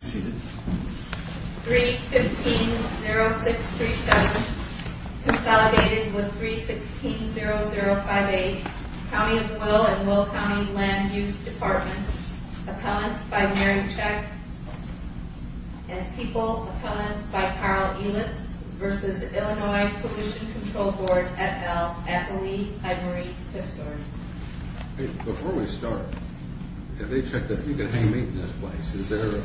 3-15-0637 Consolidated with 3-16-0058 County of Will and Will County Land Use Department Appellants by Mary Chek and People Appellants by Carl Elitz v. Illinois Pollution Control Board, et al. at Lee Ivory Tipsoar Hey, before we start, have they checked if we can hang meat in this place? Is there a...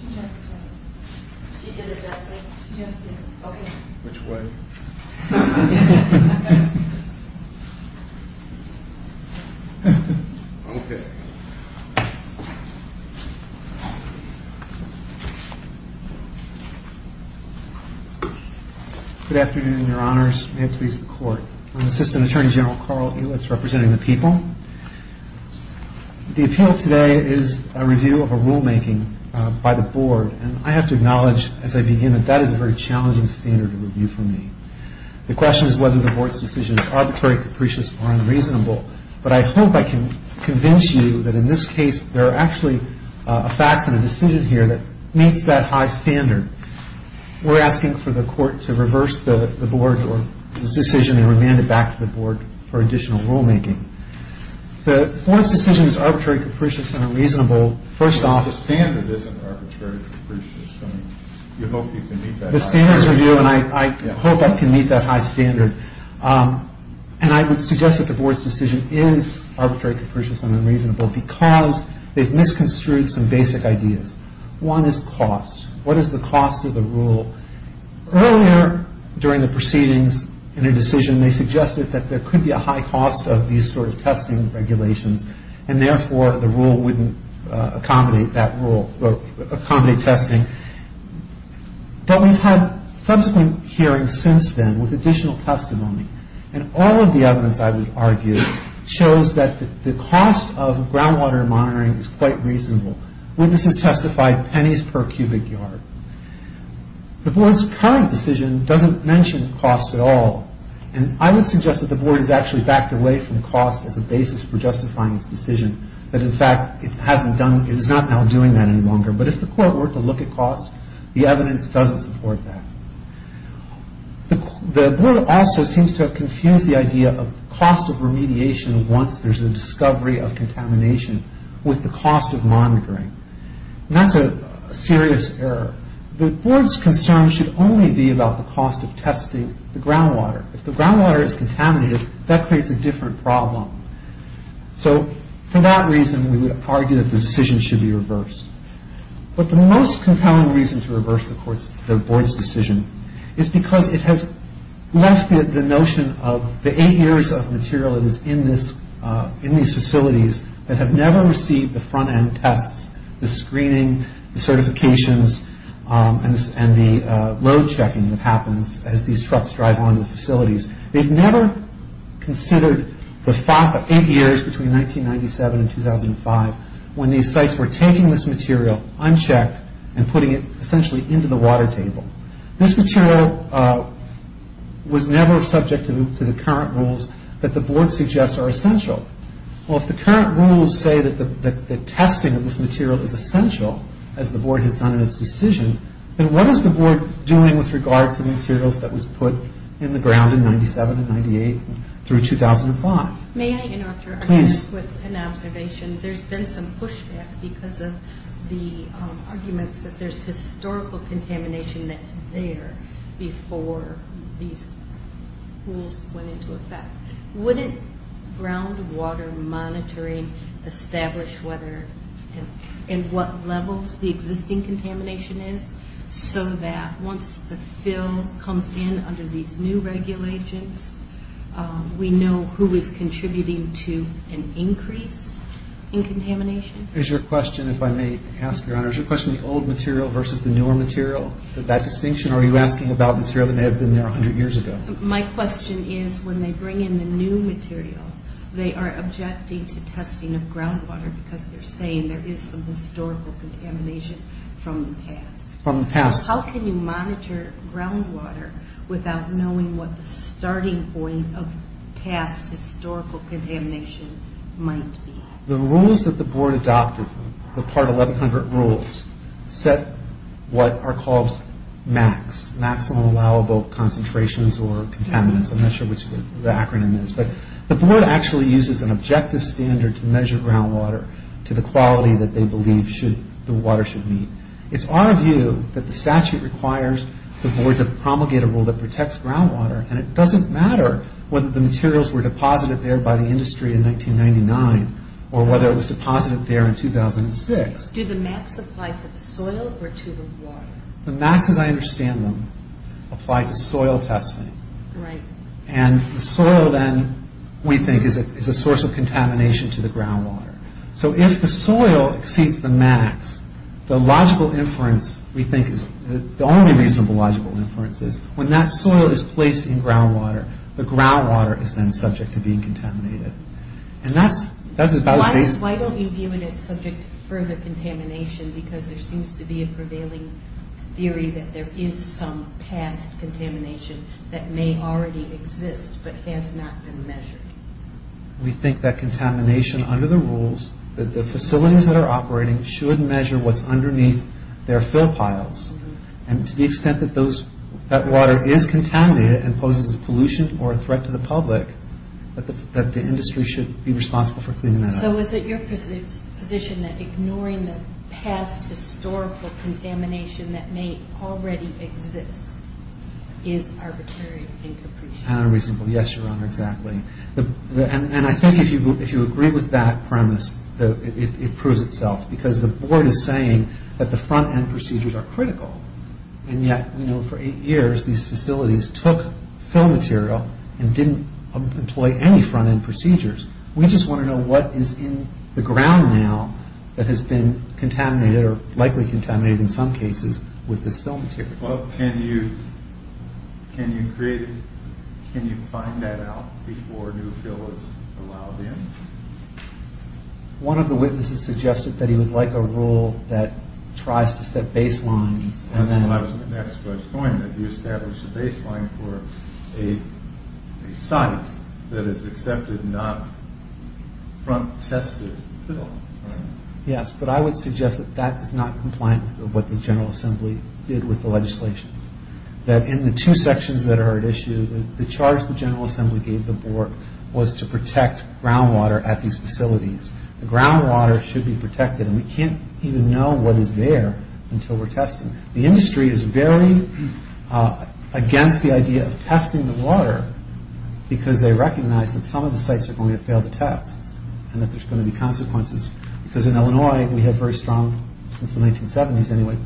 She just did. She did it that night. She just did. Okay. Which way? Okay. Good afternoon, Your Honors. May it please the Court. I'm Assistant Attorney General Carl Elitz, representing the people. The appeal today is a review of a rulemaking by the Board, and I have to acknowledge as I begin that that is a very challenging standard of review for me. The question is whether the Board's decision is arbitrary, capricious, or unreasonable. But I hope I can convince you that in this case there are actually facts and a decision here that meets that high standard. We're asking for the Court to reverse the Board's decision and remand it back to the Board for additional rulemaking. The Board's decision is arbitrary, capricious, and unreasonable. First off... The standard isn't arbitrary, capricious. I mean, you hope you can meet that high standard. The standard is review, and I hope I can meet that high standard. And I would suggest that the Board's decision is arbitrary, capricious, and unreasonable because they've misconstrued some basic ideas. One is cost. What is the cost of the rule? Earlier during the proceedings in a decision, they suggested that there could be a high cost of these sort of testing regulations, and therefore the rule wouldn't accommodate that rule, accommodate testing. But we've had subsequent hearings since then with additional testimony, and all of the evidence, I would argue, shows that the cost of groundwater monitoring is quite reasonable. Witnesses testified pennies per cubic yard. The Board's current decision doesn't mention cost at all, and I would suggest that the Board has actually backed away from cost as a basis for justifying its decision, that in fact it is not now doing that any longer. But if the Court were to look at cost, the evidence doesn't support that. The Board also seems to have confused the idea of cost of remediation once there's a discovery of contamination with the cost of monitoring. And that's a serious error. The Board's concern should only be about the cost of testing the groundwater. If the groundwater is contaminated, that creates a different problem. So for that reason, we would argue that the decision should be reversed. But the most compelling reason to reverse the Board's decision is because it has left the notion of the eight years of material that is in these facilities that have never received the front-end tests, the screening, the certifications, and the road checking that happens as these trucks drive on to the facilities. They've never considered the eight years between 1997 and 2005 when these sites were taking this material, unchecked, and putting it essentially into the water table. This material was never subject to the current rules that the Board suggests are essential. Well, if the current rules say that the testing of this material is essential, as the Board has done in its decision, then what is the Board doing with regard to materials that was put in the ground in 1997 and 1998 through 2005? May I interrupt your argument with an observation? There's been some pushback because of the arguments that there's historical contamination that's there before these rules went into effect. Wouldn't groundwater monitoring establish whether and what levels the existing contamination is so that once the fill comes in under these new regulations, we know who is contributing to an increase in contamination? Is your question, if I may ask, Your Honor, is your question the old material versus the newer material, that distinction? Or are you asking about material that may have been there 100 years ago? My question is when they bring in the new material, they are objecting to testing of groundwater because they're saying there is some historical contamination from the past. From the past. How can you monitor groundwater without knowing what the starting point of past historical contamination might be? The rules that the Board adopted, the Part 1100 rules, set what are called MACs, maximum allowable concentrations or contaminants. I'm not sure which the acronym is. But the Board actually uses an objective standard to measure groundwater to the quality that they believe the water should meet. It's our view that the statute requires the Board to promulgate a rule that protects groundwater, and it doesn't matter whether the materials were deposited there by the industry in 1999 or whether it was deposited there in 2006. Do the MACs apply to the soil or to the water? The MACs, as I understand them, apply to soil testing. Right. And the soil then, we think, is a source of contamination to the groundwater. So if the soil exceeds the MACs, the logical inference, we think, the only reasonable logical inference is when that soil is placed in groundwater, the groundwater is then subject to being contaminated. Why don't you view it as subject to further contamination because there seems to be a prevailing theory that there is some past contamination that may already exist but has not been measured? We think that contamination under the rules, that the facilities that are operating should measure what's underneath their fill piles. And to the extent that that water is contaminated and poses a pollution or a threat to the public, that the industry should be responsible for cleaning that up. So is it your position that ignoring the past historical contamination that may already exist is arbitrary and capricious? Unreasonable. Yes, Your Honor, exactly. And I think if you agree with that premise, it proves itself because the board is saying that the front-end procedures are critical and yet, you know, for eight years, these facilities took fill material and didn't employ any front-end procedures. We just want to know what is in the ground now that has been contaminated or likely contaminated in some cases with this fill material. Well, can you find that out before new fill is allowed in? One of the witnesses suggested that he would like a rule that tries to set baselines and then... And that's where I was going, that you established a baseline for a site that is accepted, not front-tested fill. Yes, but I would suggest that that is not compliant with what the General Assembly did with the legislation. That in the two sections that are at issue, the charge the General Assembly gave the board was to protect groundwater at these facilities. The groundwater should be protected and we can't even know what is there until we're testing. The industry is very against the idea of testing the water because they recognize that some of the sites are going to fail the tests and that there's going to be consequences because in Illinois, we have very strong, since the 1970s anyway,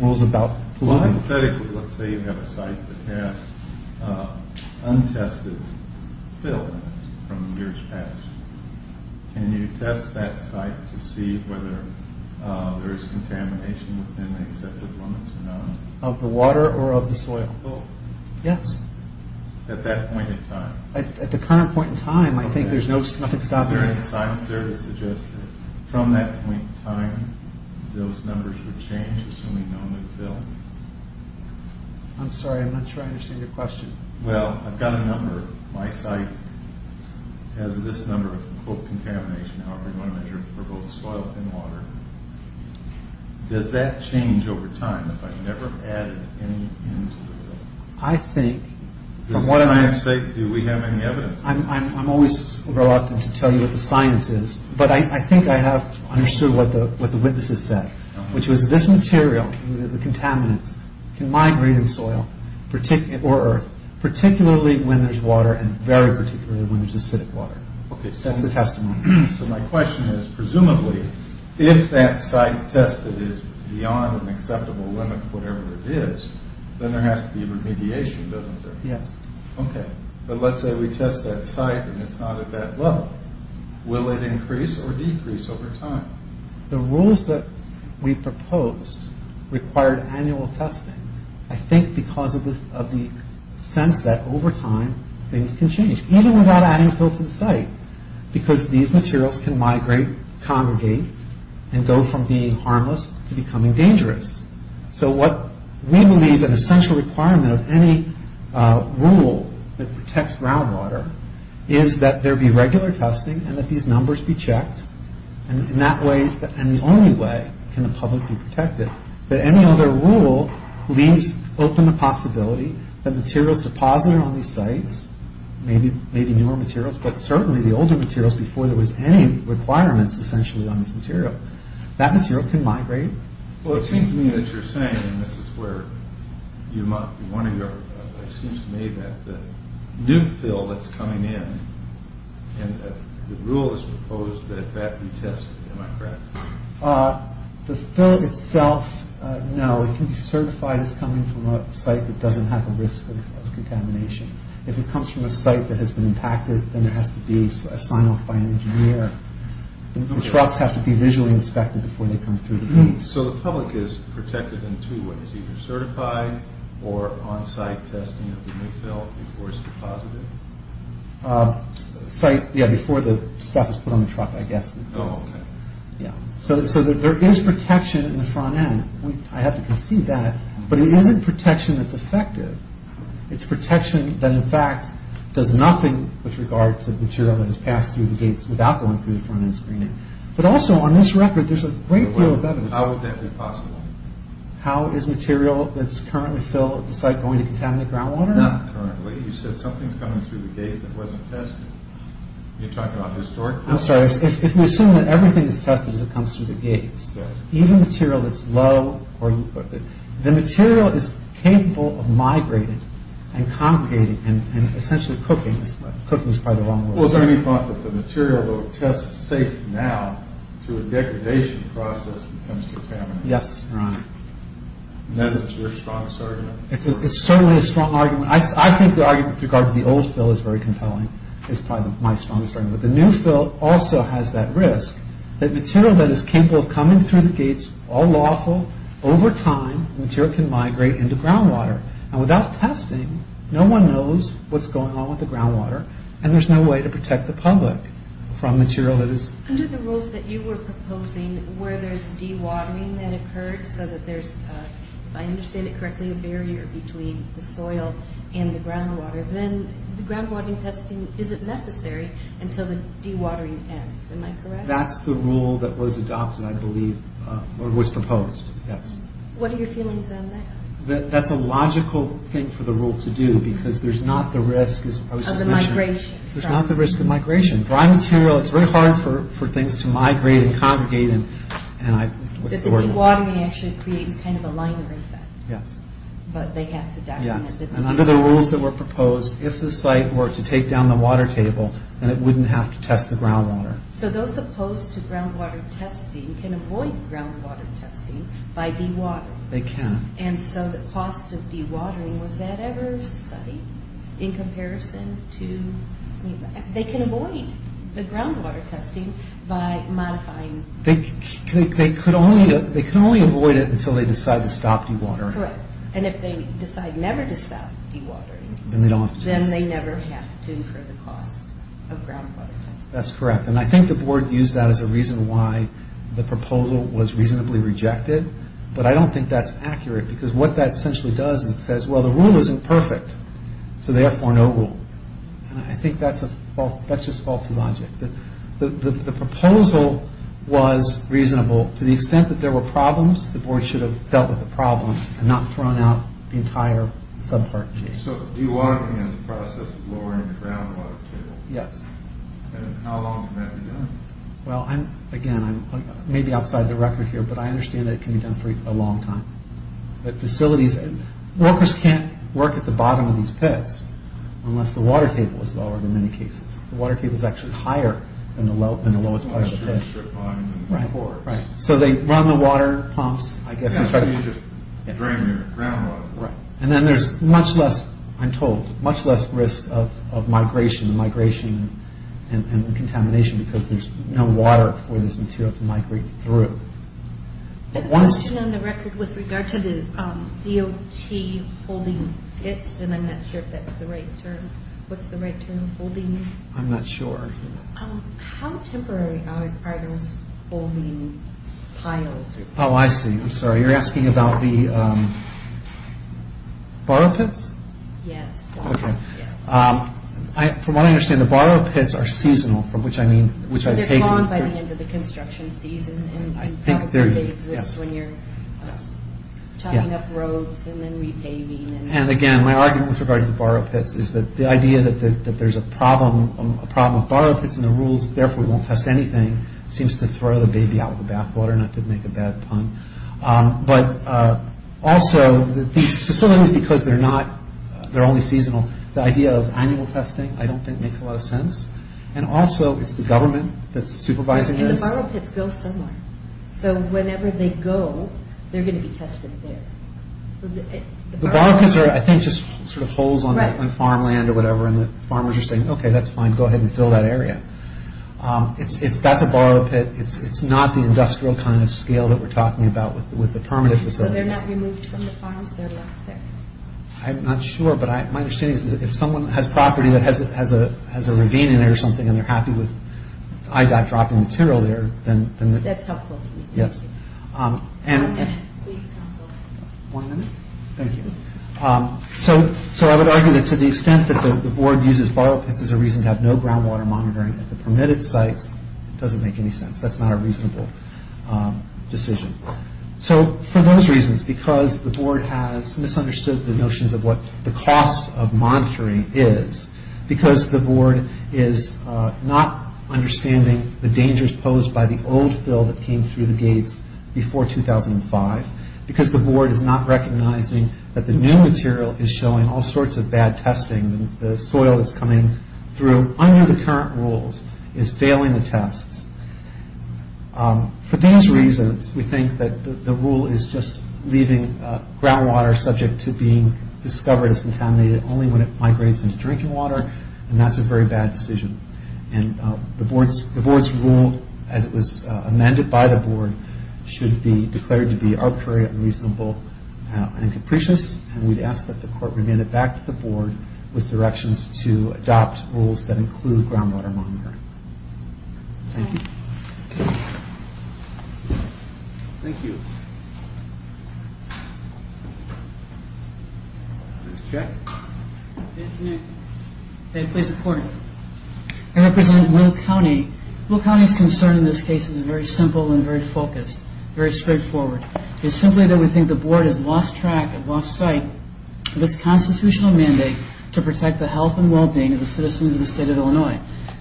rules about... Well, hypothetically, let's say you have a site that has untested fill from years past. Can you test that site to see whether there is contamination within the accepted limits or not? Of the water or of the soil? Both. Yes. At that point in time? At the current point in time, I think there's nothing stopping it. Is there any science there to suggest that from that point in time, those numbers would change, assuming no new fill? I'm sorry, I'm not sure I understand your question. Well, I've got a number. My site has this number of contamination, however you want to measure it, for both soil and water. Does that change over time if I never added any into the... I think... For science's sake, do we have any evidence? I'm always reluctant to tell you what the science is, but I think I have understood what the witnesses said, which was this material, the contaminants, can migrate in soil or earth, particularly when there's water and very particularly when there's acidic water. That's the testimony. So my question is, presumably, if that site tested is beyond an acceptable limit, whatever it is, then there has to be remediation, doesn't there? Yes. Okay. But let's say we test that site and it's not at that level. Will it increase or decrease over time? The rules that we proposed required annual testing, I think because of the sense that over time things can change, even without adding a fill to the site, because these materials can migrate, congregate, and go from being harmless to becoming dangerous. So what we believe an essential requirement of any rule that protects groundwater is that there be regular testing and that these numbers be checked, and the only way can the public be protected. But any other rule leaves open the possibility that materials deposited on these sites, maybe newer materials, but certainly the older materials, before there was any requirements essentially on this material, that material can migrate. Well, it seems to me that you're saying, and this is where you might want to go, it seems to me that the new fill that's coming in, and the rule is proposed that that be tested, am I correct? The fill itself, no. It can be certified as coming from a site that doesn't have a risk of contamination. If it comes from a site that has been impacted, then there has to be a sign-off by an engineer. The trucks have to be visually inspected before they come through the gates. So the public is protected in two ways, either certified or on-site testing of the new fill before it's deposited? Before the stuff is put on the truck, I guess. So there is protection in the front end, I have to concede that, but it isn't protection that's effective. It's protection that in fact does nothing with regard to material that has passed through the gates without going through the front end screening. But also, on this record, there's a great deal of evidence. How would that be possible? How is material that's currently filled at the site going to contaminate groundwater? Not currently. You said something's coming through the gates that wasn't tested. Are you talking about historical evidence? I'm sorry. If we assume that everything is tested as it comes through the gates, even material that's low, the material is capable of migrating and congregating and essentially cooking. Cooking is probably the wrong word. Was there any thought that the material that would test safe now through a degradation process becomes contaminated? Yes, Your Honor. Is that your strongest argument? It's certainly a strong argument. I think the argument with regard to the old fill is very compelling. It's probably my strongest argument. But the new fill also has that risk, that material that is capable of coming through the gates, all lawful, over time, material can migrate into groundwater. Without testing, no one knows what's going on with the groundwater, and there's no way to protect the public from material that is... Under the rules that you were proposing, where there's dewatering that occurs so that there's, if I understand it correctly, a barrier between the soil and the groundwater, then the groundwater testing isn't necessary until the dewatering ends. Am I correct? That's the rule that was adopted, I believe, or was proposed, yes. What are your feelings on that? That's a logical thing for the rule to do, because there's not the risk, as I was just mentioning... Of the migration. There's not the risk of migration. Dry material, it's very hard for things to migrate and congregate and... The dewatering actually creates kind of a liner effect. Yes. But they have to document... Yes, and under the rules that were proposed, if the site were to take down the water table, then it wouldn't have to test the groundwater. So those opposed to groundwater testing can avoid groundwater testing by dewatering. They can. And so the cost of dewatering, was that ever studied in comparison to... They can avoid the groundwater testing by modifying... They could only avoid it until they decide to stop dewatering. Correct. And if they decide never to stop dewatering... Then they don't have to test. Of groundwater testing. That's correct. And I think the board used that as a reason why the proposal was reasonably rejected. But I don't think that's accurate, because what that essentially does is it says, well, the rule isn't perfect. So therefore, no rule. And I think that's just faulty logic. The proposal was reasonable to the extent that there were problems. The board should have dealt with the problems and not thrown out the entire subpart change. So dewatering is a process of lowering the groundwater table. Yes. And how long can that be done? Well, again, I'm maybe outside the record here, but I understand that it can be done for a long time. The facilities... Workers can't work at the bottom of these pits unless the water table is lowered in many cases. The water table is actually higher than the lowest part of the pit. So they run the water pumps, I guess... You just drain your groundwater. Right. And then there's much less, I'm told, much less risk of migration and contamination, because there's no water for this material to migrate through. I have a question on the record with regard to the DOT holding pits, and I'm not sure if that's the right term. What's the right term? Holding? I'm not sure. How temporary are those holding piles? Oh, I see. I'm sorry. You're asking about the borrow pits? Yes. Okay. From what I understand, the borrow pits are seasonal, from which I mean... They're gone by the end of the construction season, and probably they exist when you're chopping up roads and then repaving. And again, my argument with regard to the borrow pits is that the idea that there's a problem with borrow pits and the rules, therefore we won't test anything, seems to throw the baby out with the bathwater, not to make a bad pun. But also, these facilities, because they're only seasonal, the idea of annual testing I don't think makes a lot of sense. And also, it's the government that's supervising this. And the borrow pits go somewhere. So whenever they go, they're going to be tested there. The borrow pits are, I think, just sort of holes on farmland or whatever, and the farmers are saying, okay, that's fine, go ahead and fill that area. That's a borrow pit. It's not the industrial kind of scale that we're talking about with the permanent facilities. So they're not removed from the farms? They're left there? I'm not sure, but my understanding is if someone has property that has a ravine in there or something and they're happy with IDOT dropping material there, then... That's helpful to me. Yes. One minute, please, counsel. One minute? Thank you. So I would argue that to the extent that the board uses borrow pits as a reason to have no groundwater monitoring at the permitted sites, it doesn't make any sense. That's not a reasonable decision. So for those reasons, because the board has misunderstood the notions of what the cost of monitoring is, because the board is not understanding the dangers posed by the old fill that came through the gates before 2005, because the board is not recognizing that the new material is showing all sorts of bad testing, the soil that's coming through under the current rules is failing the tests. For these reasons, we think that the rule is just leaving groundwater subject to being discovered as contaminated only when it migrates into drinking water, and that's a very bad decision. And the board's rule, as it was amended by the board, should be declared to be arbitrary, unreasonable, and capricious, and we'd ask that the court remain it back to the board with directions to adopt rules that include groundwater monitoring. Thank you. Thank you. Please check. May I please report? I represent Will County. Will County's concern in this case is very simple and very focused, very straightforward. It's simply that we think the board has lost track and lost sight of this constitutional mandate to protect the health and well-being of the citizens of the state of Illinois,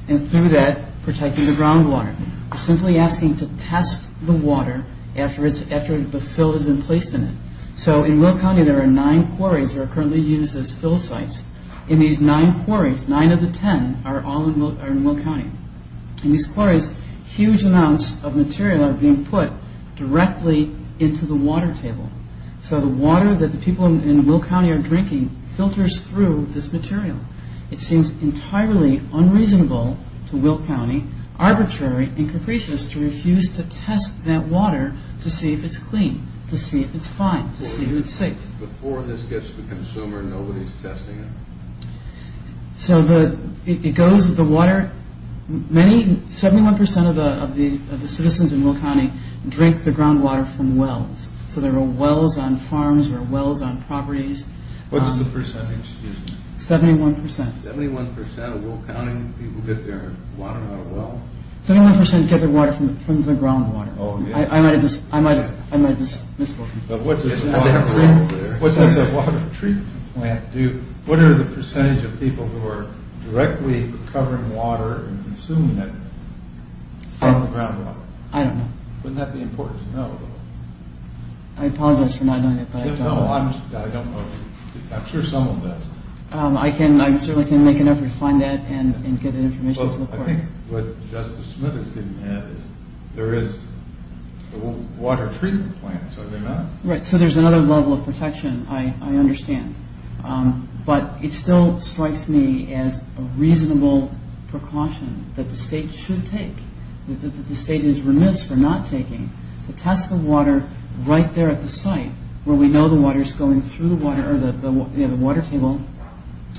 and through that, protecting the groundwater. We're simply asking to test the water after the fill has been placed in it. So in Will County, there are nine quarries that are currently used as fill sites, and these nine quarries, nine of the ten, are all in Will County. In these quarries, huge amounts of material are being put directly into the water table. So the water that the people in Will County are drinking filters through this material. It seems entirely unreasonable to Will County, arbitrary and capricious, to refuse to test that water to see if it's clean, to see if it's fine, to see if it's safe. Before this gets to the consumer, nobody's testing it? So it goes to the water. Seventy-one percent of the citizens in Will County drink the groundwater from wells, so there are wells on farms, there are wells on properties. What's the percentage? Seventy-one percent. Seventy-one percent of Will County people get their water out of a well? Seventy-one percent get their water from the groundwater. I might have just missed one. What does the water treatment plant do? What are the percentage of people who are directly recovering water and consuming it from the groundwater? I don't know. Wouldn't that be important to know, though? I apologize for not knowing that. No, I don't know. I'm sure someone does. I certainly can make an effort to find that and get that information to the court. I think what Justice Smith is getting at is there is water treatment plants, are there not? Right, so there's another level of protection, I understand. But it still strikes me as a reasonable precaution that the state should take, that the state is remiss for not taking, to test the water right there at the site where we know the water is going through the water table,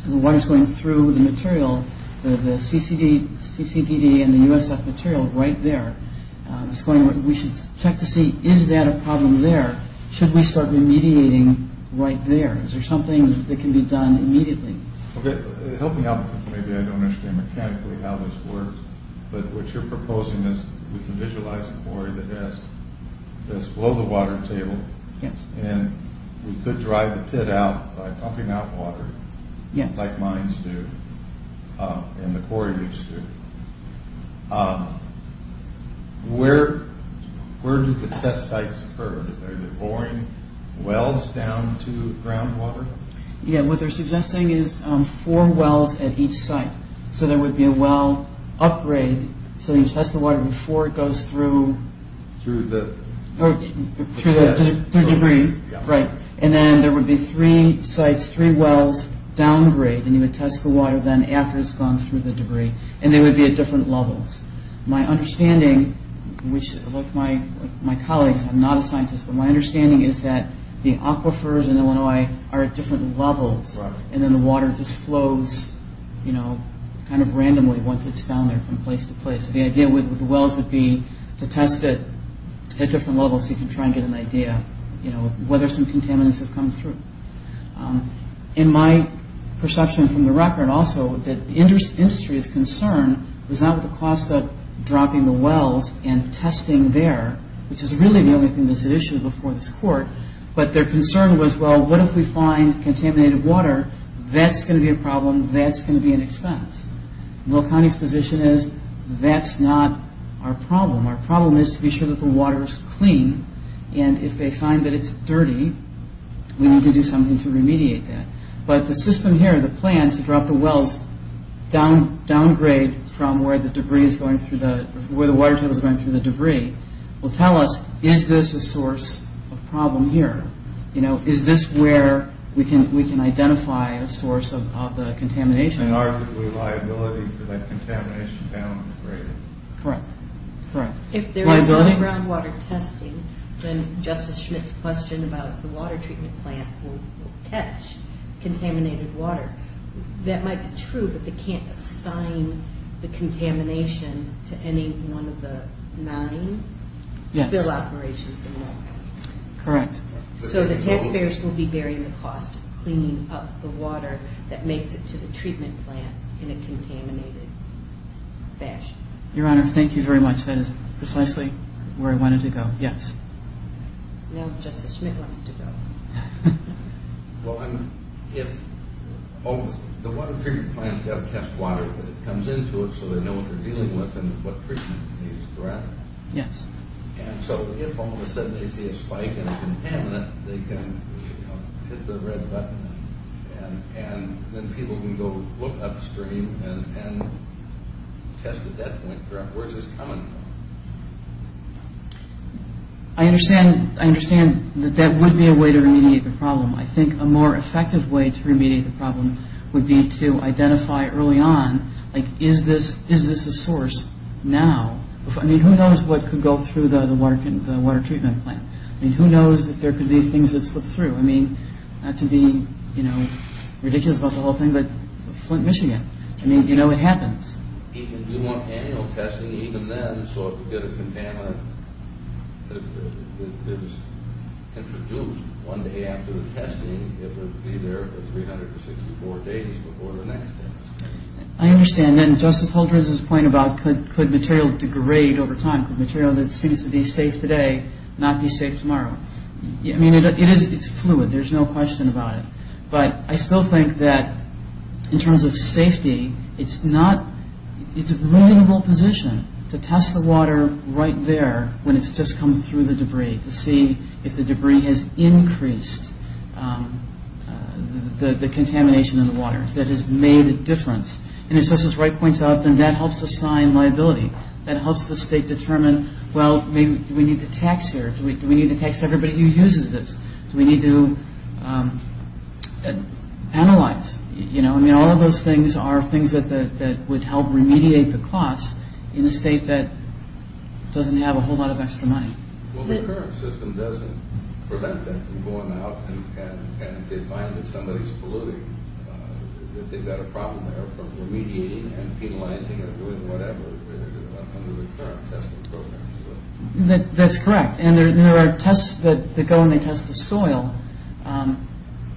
the water is going through the material, the CCDD and the USF material right there. We should check to see, is that a problem there? Should we start remediating right there? Is there something that can be done immediately? Help me out, because maybe I don't understand mechanically how this works. But what you're proposing is we can visualize a quarry that's below the water table, and we could drive the pit out by pumping out water, like mines do, and the quarry leaks do. Where do the test sites occur? Are they pouring wells down to groundwater? Yeah, what they're suggesting is four wells at each site. So there would be a well upgrade, so you test the water before it goes through the debris. And then there would be three sites, three wells downgrade, and you would test the water then after it's gone through the debris. And they would be at different levels. My understanding, like my colleagues, I'm not a scientist, but my understanding is that the aquifers in Illinois are at different levels, and then the water just flows kind of randomly once it's down there from place to place. So the idea with the wells would be to test it at different levels so you can try and get an idea of whether some contaminants have come through. In my perception from the record also, the industry's concern was not with the cost of dropping the wells and testing there, which is really the only thing that's at issue before this court, but their concern was, well, what if we find contaminated water? That's going to be a problem. That's going to be an expense. Will County's position is that's not our problem. Our problem is to be sure that the water is clean, and if they find that it's dirty, we need to do something to remediate that. But the system here, the plan to drop the wells downgrade from where the water table is going through the debris will tell us, is this a source of problem here? Is this where we can identify a source of the contamination? And arguably liability for that contamination downgrade. Correct. If there is no groundwater testing, then Justice Schmidt's question about the water treatment plant will catch contaminated water. That might be true, but they can't assign the contamination to any one of the nine fill operations involved. Correct. So the taxpayers will be bearing the cost of cleaning up the water that makes it to the treatment plant in a contaminated fashion. Your Honor, thank you very much. That is precisely where I wanted to go. Yes. Now Justice Schmidt wants to go. Well, if the water treatment plant has to test water because it comes into it so they know what they're dealing with and what treatment is correct. Yes. And so if all of a sudden they see a spike in a contaminant, they can hit the red button, and then people can go look upstream and test at that point. Where is this coming from? I understand that that would be a way to remediate the problem. I think a more effective way to remediate the problem would be to identify early on, like, is this a source now? I mean, who knows what could go through the water treatment plant? I mean, who knows if there could be things that slip through? I mean, not to be, you know, ridiculous about the whole thing, but Flint, Michigan. I mean, you know, it happens. Do you want annual testing even then I understand. And Justice Holdren's point about could material degrade over time, could material that seems to be safe today not be safe tomorrow? I mean, it is fluid. There's no question about it. But I still think that in terms of safety, it's not. It's a reasonable position to test the water right there when it's just come through the debris to see if the debris has increased the contamination in the water that has made a difference. And as Justice Wright points out, then that helps assign liability. That helps the state determine, well, maybe we need to tax here. Do we need to tax everybody who uses this? Do we need to penalize? You know, I mean, all of those things are things that would help remediate the cost in a state that doesn't have a whole lot of extra money. Well, the current system doesn't prevent them from going out and if they find that somebody's polluting, that they've got a problem there, but we're mediating and penalizing and doing whatever under the current testing program. That's correct. And there are tests that go and they test the soil.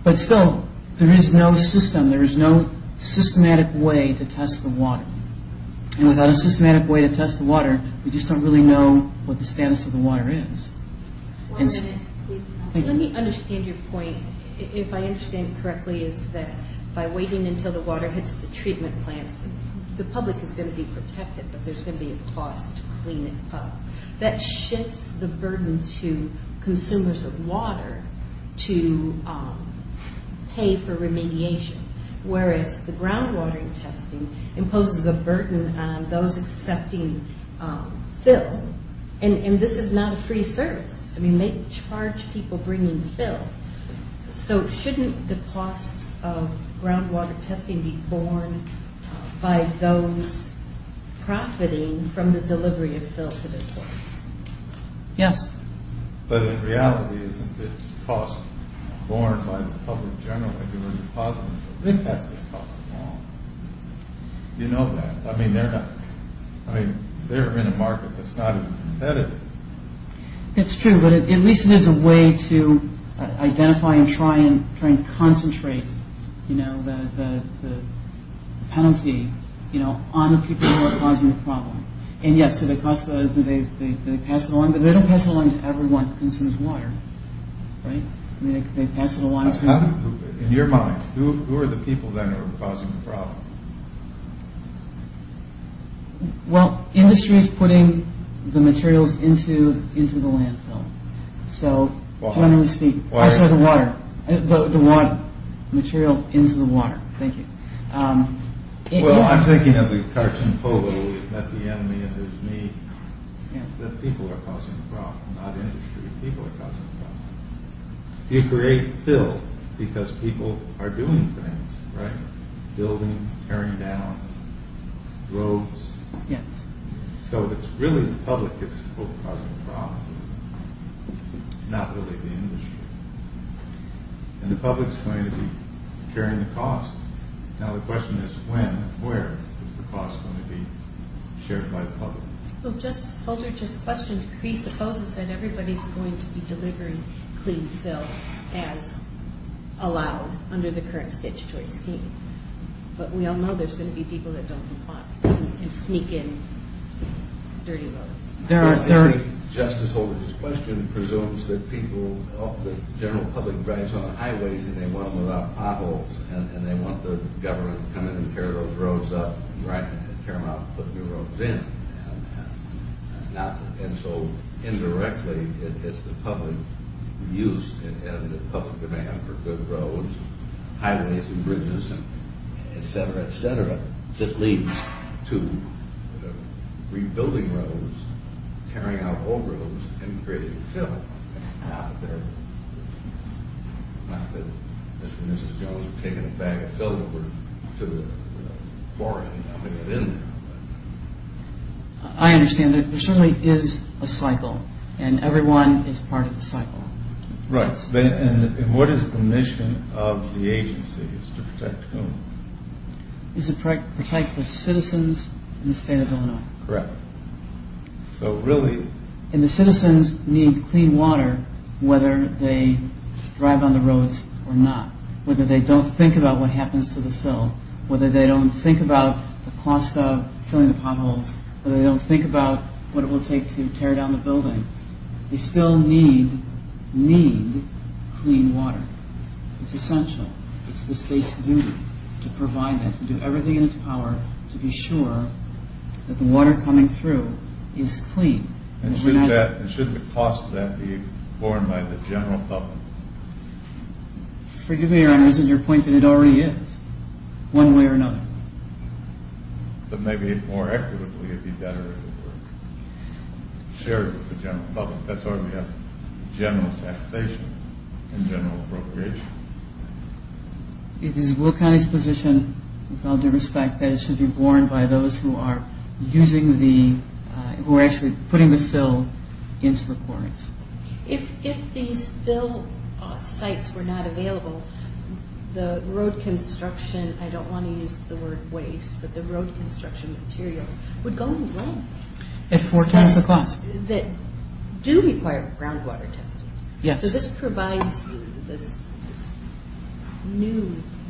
But still, there is no system. There is no systematic way to test the water. And without a systematic way to test the water, we just don't really know what the status of the water is. One minute, please. Let me understand your point, if I understand it correctly, is that by waiting until the water hits the treatment plants, the public is going to be protected, but there's going to be a cost to clean it up. That shifts the burden to consumers of water to pay for remediation, whereas the groundwater testing imposes a burden on those accepting fill. And this is not a free service. I mean, they charge people bringing fill. So shouldn't the cost of groundwater testing be borne by those profiting from the delivery of fill to this place? Yes. But in reality, isn't the cost borne by the public general if you were depositing? They pass this cost along. You know that. I mean, they're in a market that's not competitive. That's true, but at least there's a way to identify and try and concentrate the penalty on the people who are causing the problem. And yes, they pass it along, but they don't pass it along to everyone who consumes water, right? They pass it along to... In your mind, who are the people that are causing the problem? Well, industry is putting the materials into the landfill. So generally speaking. I saw the water. The water material into the water. Thank you. Well, I'm thinking of the cartoon Poe, where he met the enemy and his need. The people are causing the problem, not industry. People are causing the problem. You create filth because people are doing things, right? Building, tearing down roads. Yes. So it's really the public that's causing the problem, not really the industry. And the public's going to be carrying the cost. Now the question is when and where is the cost going to be shared by the public? Well, Justice Holder, just a question. He supposes that everybody's going to be delivering clean filth as allowed under the current statutory scheme. But we all know there's going to be people that don't comply and sneak in dirty roads. There are 30. Justice Holder's question presumes that people, general public drives on the highways and they want to move out potholes and they want the government to come in and tear those roads up, tear them out and put new roads in. And so indirectly it's the public use and the public demand for good roads, highways and bridges, et cetera, et cetera, that leads to rebuilding roads, tearing out old roads, and creating filth. Not that Mr. and Mrs. Jones have taken a bag of filth over to the foreign I understand. There certainly is a cycle and everyone is part of the cycle. Right. And what is the mission of the agency? It's to protect whom? It's to protect the citizens in the state of Illinois. Correct. So really... And the citizens need clean water whether they drive on the roads or not, whether they don't think about what happens to the filth, whether they don't think about the cost of filling the potholes, whether they don't think about what it will take to tear down the building, they still need, need clean water. It's essential. It's the state's duty to provide that, to do everything in its power to be sure that the water coming through is clean. And shouldn't the cost of that be borne by the general public? Forgive me, Your Honor, isn't your point that it already is? One way or another. But maybe more accurately it would be better if it were shared with the general public. That's where we have general taxation and general appropriation. It is Will County's position, with all due respect, that it should be borne by those who are using the, who are actually putting the fill into requirements. If these fill sites were not available, the road construction, I don't want to use the word waste, but the road construction materials would go in waste. At four times the cost. That do require groundwater testing. Yes. So this provides, this new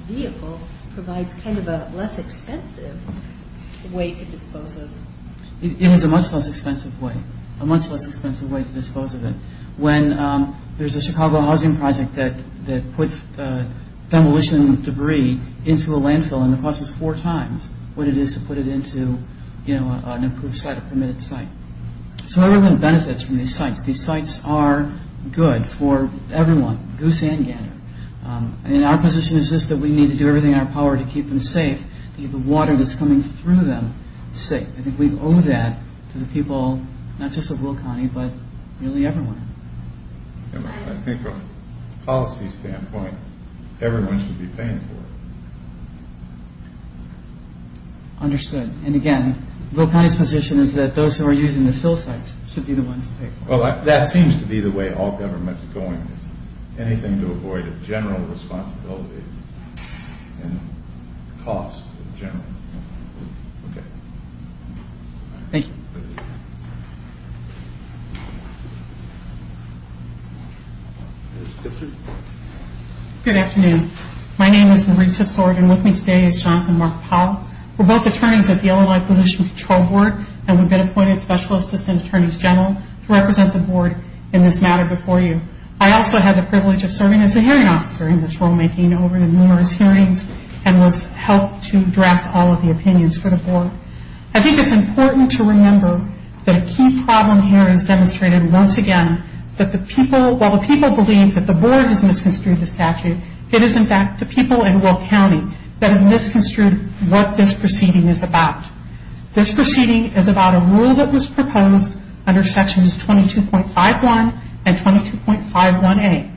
vehicle provides kind of a less expensive way to dispose of it. It was a much less expensive way, a much less expensive way to dispose of it. When there's a Chicago housing project that puts demolition debris into a landfill and the cost is four times what it is to put it into, you know, an approved site, a permitted site. So everyone benefits from these sites. These sites are good for everyone, goose and gander. And our position is just that we need to do everything in our power to keep them safe, to keep the water that's coming through them safe. I think we owe that to the people, not just of Will County, but really everyone. I think from a policy standpoint, everyone should be paying for it. Understood. And again, Will County's position is that those who are using the fill sites should be the ones to pay for it. Well, that seems to be the way all government's going. Anything to avoid a general responsibility and cost in general. Okay. Thank you. Good afternoon. My name is Marie Tipsord and with me today is Johnson Mark Powell. We're both attorneys at the Illinois Pollution Control Board and we've been appointed Special Assistant Attorneys General to represent the board in this matter before you. I also have the privilege of serving as the hearing officer in this rulemaking over numerous hearings and was helped to draft all of the opinions for the board. I think it's important to remember that a key problem here is demonstrated once again that while the people believe that the board has misconstrued the statute, it is in fact the people in Will County that have misconstrued what this proceeding is about. This proceeding is about a rule that was proposed under Sections 22.51 and 22.51A.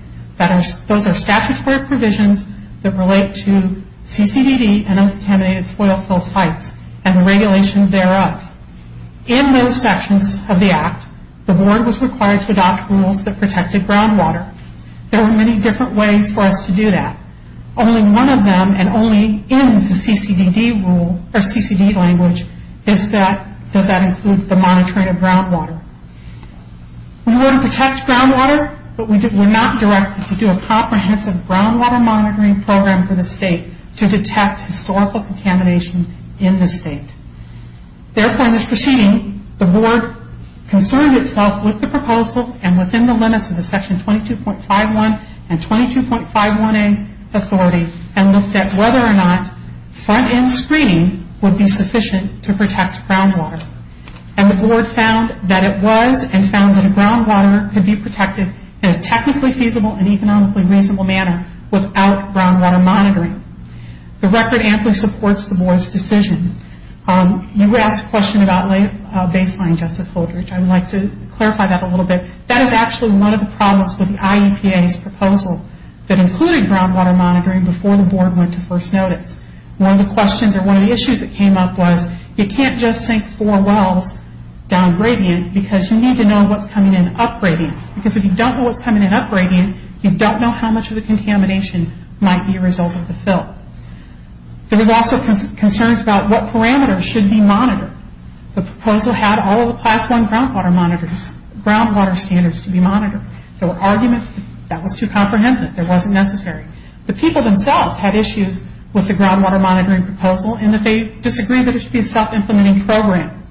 Those are statutory provisions that relate to CCDD and undeterminated soil fill sites and the regulation thereof. In those sections of the act, the board was required to adopt rules that protected groundwater. There were many different ways for us to do that. Only one of them and only in the CCDD rule or CCD language is that does that include the monitoring of groundwater. We want to protect groundwater, but we're not directed to do a comprehensive groundwater monitoring program for the state to detect historical contamination in the state. Therefore, in this proceeding, the board concerned itself with the proposal and within the limits of the Section 22.51 and 22.51A authority and looked at whether or not front-end screening would be sufficient to protect groundwater. The board found that it was and found that groundwater could be protected in a technically feasible and economically reasonable manner without groundwater monitoring. The record amply supports the board's decision. You asked a question about baseline, Justice Holdridge. I would like to clarify that a little bit. That is actually one of the problems with the IEPA's proposal that included groundwater monitoring before the board went to first notice. One of the questions or one of the issues that came up was you can't just sink four wells down gradient because you need to know what's coming in up gradient. Because if you don't know what's coming in up gradient, you don't know how much of the contamination might be a result of the fill. There was also concerns about what parameters should be monitored. The proposal had all of the Class I groundwater monitors, groundwater standards to be monitored. There were arguments that that was too comprehensive. It wasn't necessary. The people themselves had issues with the groundwater monitoring proposal and that they disagreed that it should be a self-implementing program.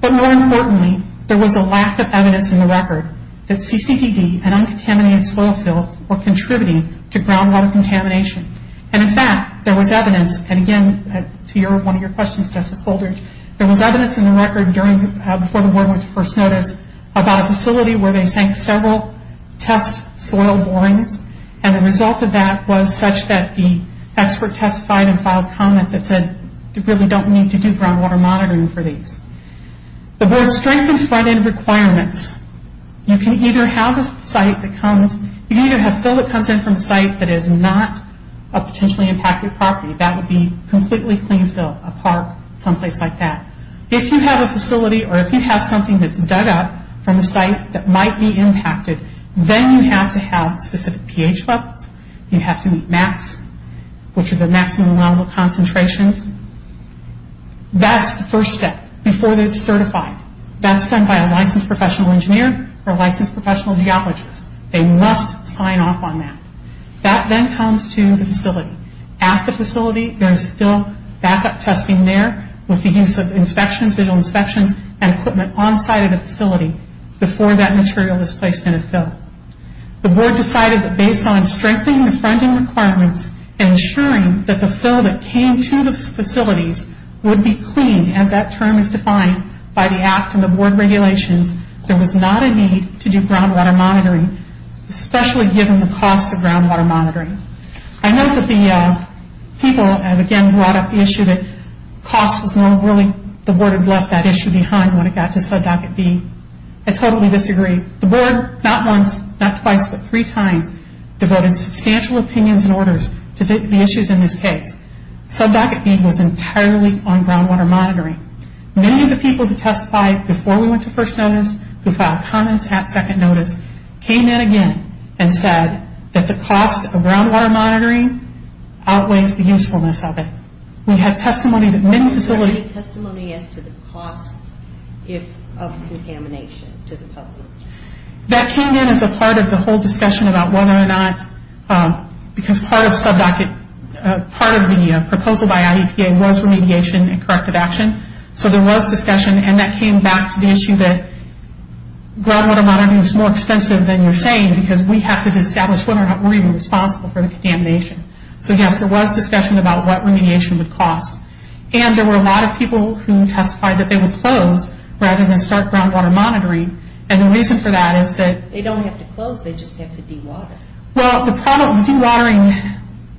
But more importantly, there was a lack of evidence in the record that CCPD and uncontaminated soil fills were contributing to groundwater contamination. In fact, there was evidence, and again, to one of your questions, Justice Holdridge, there was evidence in the record before the board went to first notice about a facility where they sank several test soil borings. The result of that was such that the expert testified and filed comment that said they really don't need to do groundwater monitoring for these. The board strengthened front-end requirements. You can either have a site that comes, you can either have fill that comes in from a site that is not a potentially impacted property. That would be completely clean fill, a park, someplace like that. If you have a facility or if you have something that's dug up from a site that might be impacted, then you have to have specific pH levels. You have to meet max, which are the maximum allowable concentrations. That's the first step before it's certified. That's done by a licensed professional engineer or licensed professional geologist. They must sign off on that. That then comes to the facility. At the facility, there is still backup testing there with the use of inspections, visual inspections, and equipment onsite of the facility before that material is placed in a fill. The board decided that based on strengthening the front-end requirements, ensuring that the fill that came to the facilities would be clean, as that term is defined by the act and the board regulations, there was not a need to do groundwater monitoring, especially given the costs of groundwater monitoring. I know that the people, again, brought up the issue that cost was not really, the board had left that issue behind when it got to sub-docket B. I totally disagree. The board, not once, not twice, but three times, devoted substantial opinions and orders to the issues in this case. Sub-docket B was entirely on groundwater monitoring. Many of the people who testified before we went to first notice, who filed comments at second notice, came in again and said that the cost of groundwater monitoring outweighs the usefulness of it. We had testimony that many facilities... What was the testimony as to the cost of contamination to the public? That came in as a part of the whole discussion about whether or not, because part of the proposal by IEPA was remediation and corrective action. There was discussion and that came back to the issue that groundwater monitoring is more expensive than you're saying because we have to establish whether or not we're even responsible for the contamination. Yes, there was discussion about what remediation would cost. There were a lot of people who testified that they would close rather than start groundwater monitoring. The reason for that is that... They don't have to close, they just have to dewater. The problem with dewatering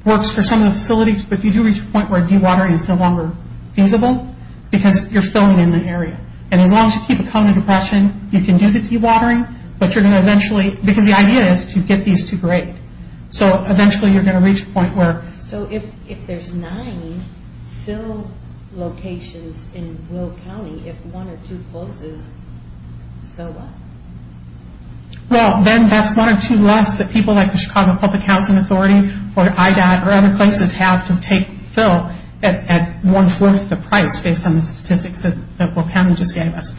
works for some of the facilities, but you do reach a point where dewatering is no longer feasible because you're filling in the area. As long as you keep a common impression, you can do the dewatering, but you're going to eventually... Because the idea is to get these to grade. Eventually, you're going to reach a point where... If there's nine fill locations in Will County, if one or two closes, so what? Then that's one or two less that people like the Chicago Public Housing Authority or IDOT or other places have to take fill at one-fourth the price based on the statistics that Will County just gave us.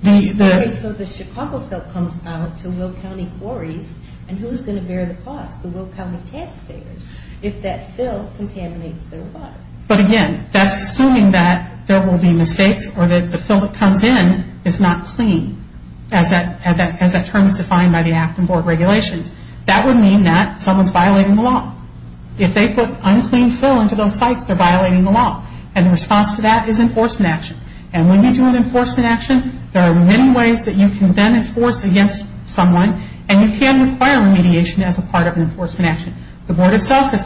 Okay, so the Chicago fill comes out to Will County quarries and who's going to bear the cost? The Will County taxpayers if that fill contaminates their water. Again, that's assuming that there will be mistakes or that the fill that comes in is not clean. As that term is defined by the Act and board regulations. That would mean that someone's violating the law. If they put unclean fill into those sites, they're violating the law. And the response to that is enforcement action. And when you do an enforcement action, there are many ways that you can then enforce against someone and you can require remediation as a part of an enforcement action. The board itself has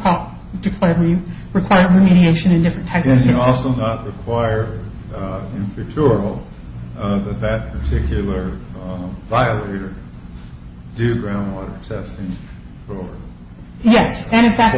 declared we require remediation in different types of cases. Does it also not require in future that that particular violator do groundwater testing for forever? Yes, and in fact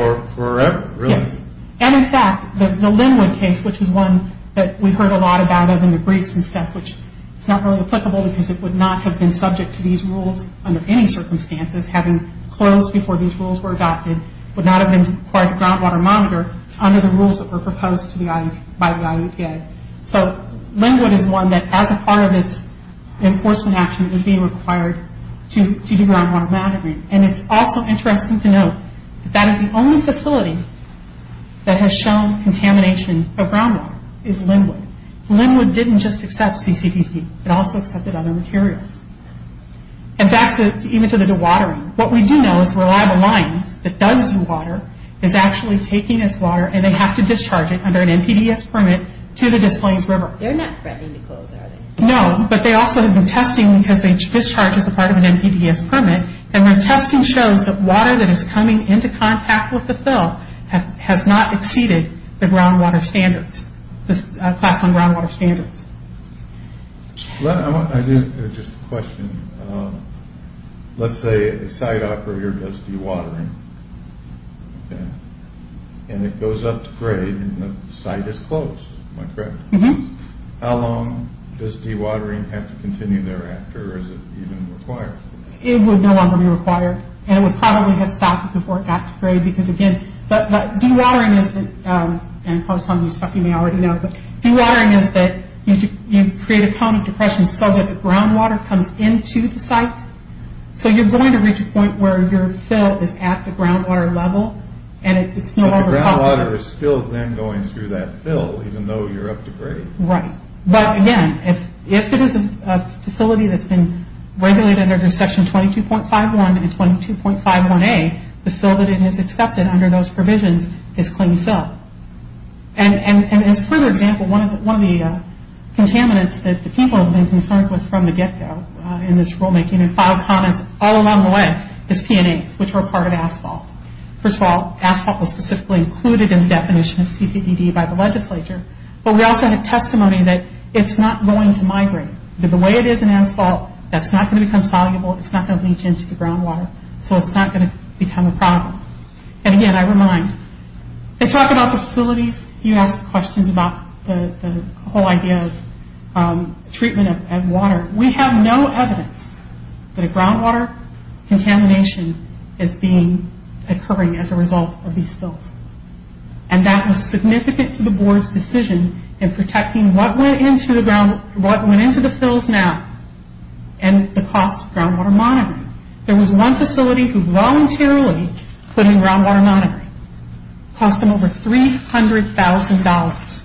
the Linwood case, which is one that we've heard a lot about in the briefs and stuff, which is not really applicable because it would not have been subject to these rules under any circumstances having closed before these rules were adopted, would not have been required to groundwater monitor under the rules that were proposed by the IEPA. So Linwood is one that as a part of its enforcement action is being required to do groundwater monitoring. And it's also interesting to note that that is the only facility that has shown contamination of groundwater is Linwood. Linwood didn't just accept CCTT, it also accepted other materials. And back to even to the dewatering, what we do know is reliable lines that does dewater is actually taking this water and they have to discharge it under an NPDES permit to the Des Plaines River. They're not threatening to close, are they? No, but they also have been testing because they discharged as a part of an NPDES permit. And when testing shows that water that is coming into contact with the fill has not exceeded the groundwater standards, the Class 1 groundwater standards. I do have just a question. Let's say a site operator does dewatering, and it goes up to grade and the site is closed, am I correct? How long does dewatering have to continue thereafter? Or is it even required? It would no longer be required. And it would probably have stopped before it got to grade because again, dewatering is, and I'm probably telling you stuff you may already know, but dewatering is that you create a kind of depression so that the groundwater comes into the site. So you're going to reach a point where your fill is at the groundwater level and it's no longer possible. But the groundwater is still then going through that fill, even though you're up to grade. Right. But again, if it is a facility that's been regulated under Section 22.51 and 22.51A, the fill that is accepted under those provisions is clean fill. And as a further example, one of the contaminants that the people have been concerned with from the get-go in this rulemaking and filed comments all along the way is PNAs, which are a part of asphalt. First of all, asphalt was specifically included in the definition of CCDD by the legislature, but we also had a testimony that it's not going to migrate. The way it is in asphalt, that's not going to become soluble, it's not going to leach into the groundwater, so it's not going to become a problem. And again, I remind, they talk about the facilities, you ask questions about the whole idea of treatment of water. We have no evidence that a groundwater contamination is occurring as a result of these fills. And that was significant to the board's decision in protecting what went into the fills now and the cost of groundwater monitoring. There was one facility who voluntarily put in groundwater monitoring. It cost them over $300,000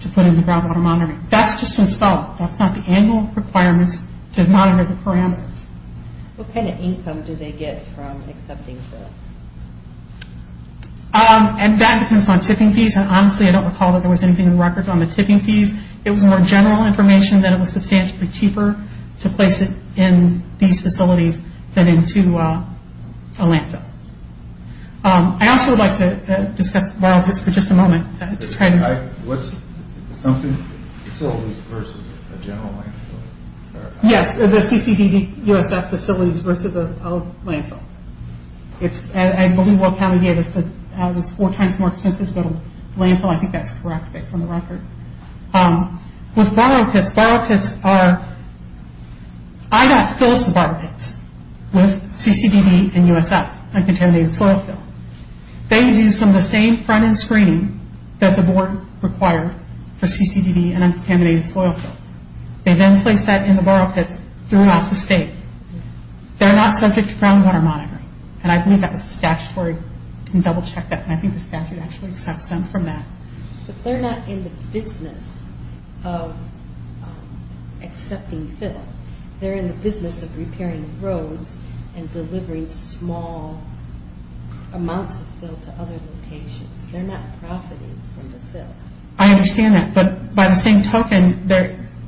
to put in the groundwater monitoring. That's just installed, that's not the annual requirements to monitor the parameters. What kind of income do they get from accepting the fill? And that depends on tipping fees, and honestly I don't recall that there was anything in the records on the tipping fees. It was more general information that it was substantially cheaper to place it in these facilities than into a landfill. I also would like to discuss borrow pits for just a moment. What's the assumption? Facilities versus a general landfill? Yes, the CCDUSF facilities versus a landfill. I believe what county gave us is that it's four times more expensive to go to a landfill. I think that's correct based on the record. With borrow pits, borrow pits are... IDOT fills the borrow pits with CCDD and USF, uncontaminated soil fill. They do some of the same front end screening that the board required for CCDD and uncontaminated soil fills. They then place that in the borrow pits throughout the state. They're not subject to groundwater monitoring, and I believe that was statutory, you can double check that, and I think the statute actually accepts them from that. But they're not in the business of accepting fill. They're in the business of repairing roads and delivering small amounts of fill to other locations. They're not profiting from the fill. I understand that, but by the same token,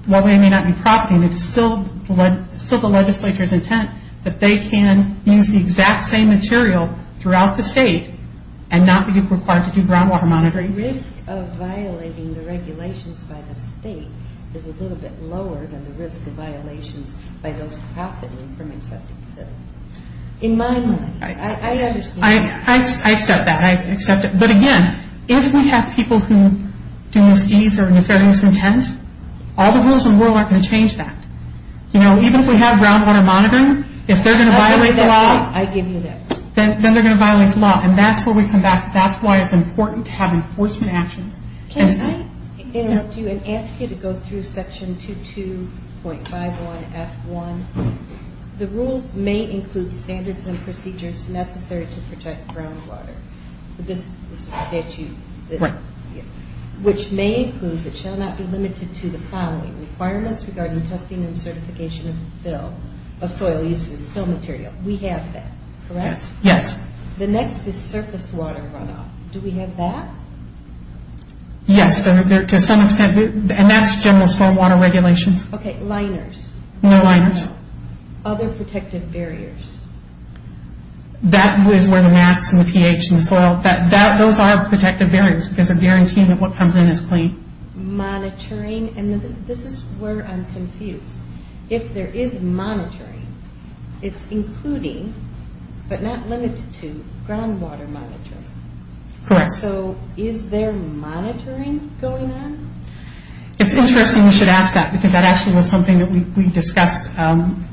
while they may not be profiting, it's still the legislature's intent that they can use the exact same material throughout the state and not be required to do groundwater monitoring. The risk of violating the regulations by the state is a little bit lower than the risk of violations by those profiting from accepting fill. In my mind, I understand that. I accept that. I accept it. But again, if we have people who do misdeeds or have an unfair misintent, all the rules in the world aren't going to change that. You know, even if we have groundwater monitoring, if they're going to violate the law... I give you that. Then they're going to violate the law, and that's where we come back. That's why it's important to have enforcement actions. Can I interrupt you and ask you to go through Section 22.51F1? The rules may include standards and procedures necessary to protect groundwater. This is the statute. Right. Which may include, but shall not be limited to, the following requirements regarding testing and certification of fill, of soil uses, fill material. We have that, correct? Yes. The next is surface water runoff. Do we have that? Yes, to some extent. And that's general stormwater regulations. Okay. Liners. No liners. Other protective barriers. That is where the max and the pH and the soil. Those are protective barriers, because they're guaranteeing that what comes in is clean. Monitoring. And this is where I'm confused. If there is monitoring, it's including, but not limited to, groundwater monitoring. Correct. So is there monitoring going on? It's interesting you should ask that, because that actually was something that we discussed, and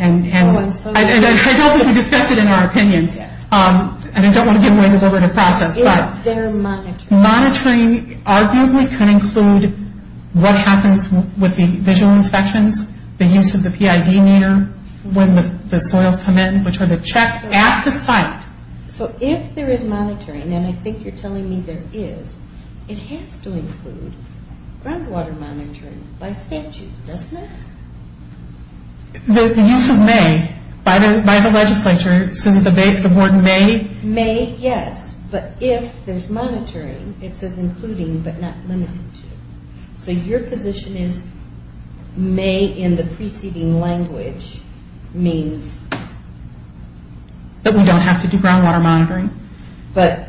I don't think we discussed it in our opinions, and I don't want to get in the way of the process. Is there monitoring? Monitoring arguably could include what happens with the visual inspections, the use of the PID meter when the soils come in, which are the checks at the site. So if there is monitoring, and I think you're telling me there is, it has to include groundwater monitoring by statute, doesn't it? The use of may by the legislature, since the board may. May, yes. But if there's monitoring, it says including, but not limited to. So your position is may in the preceding language means? That we don't have to do groundwater monitoring. But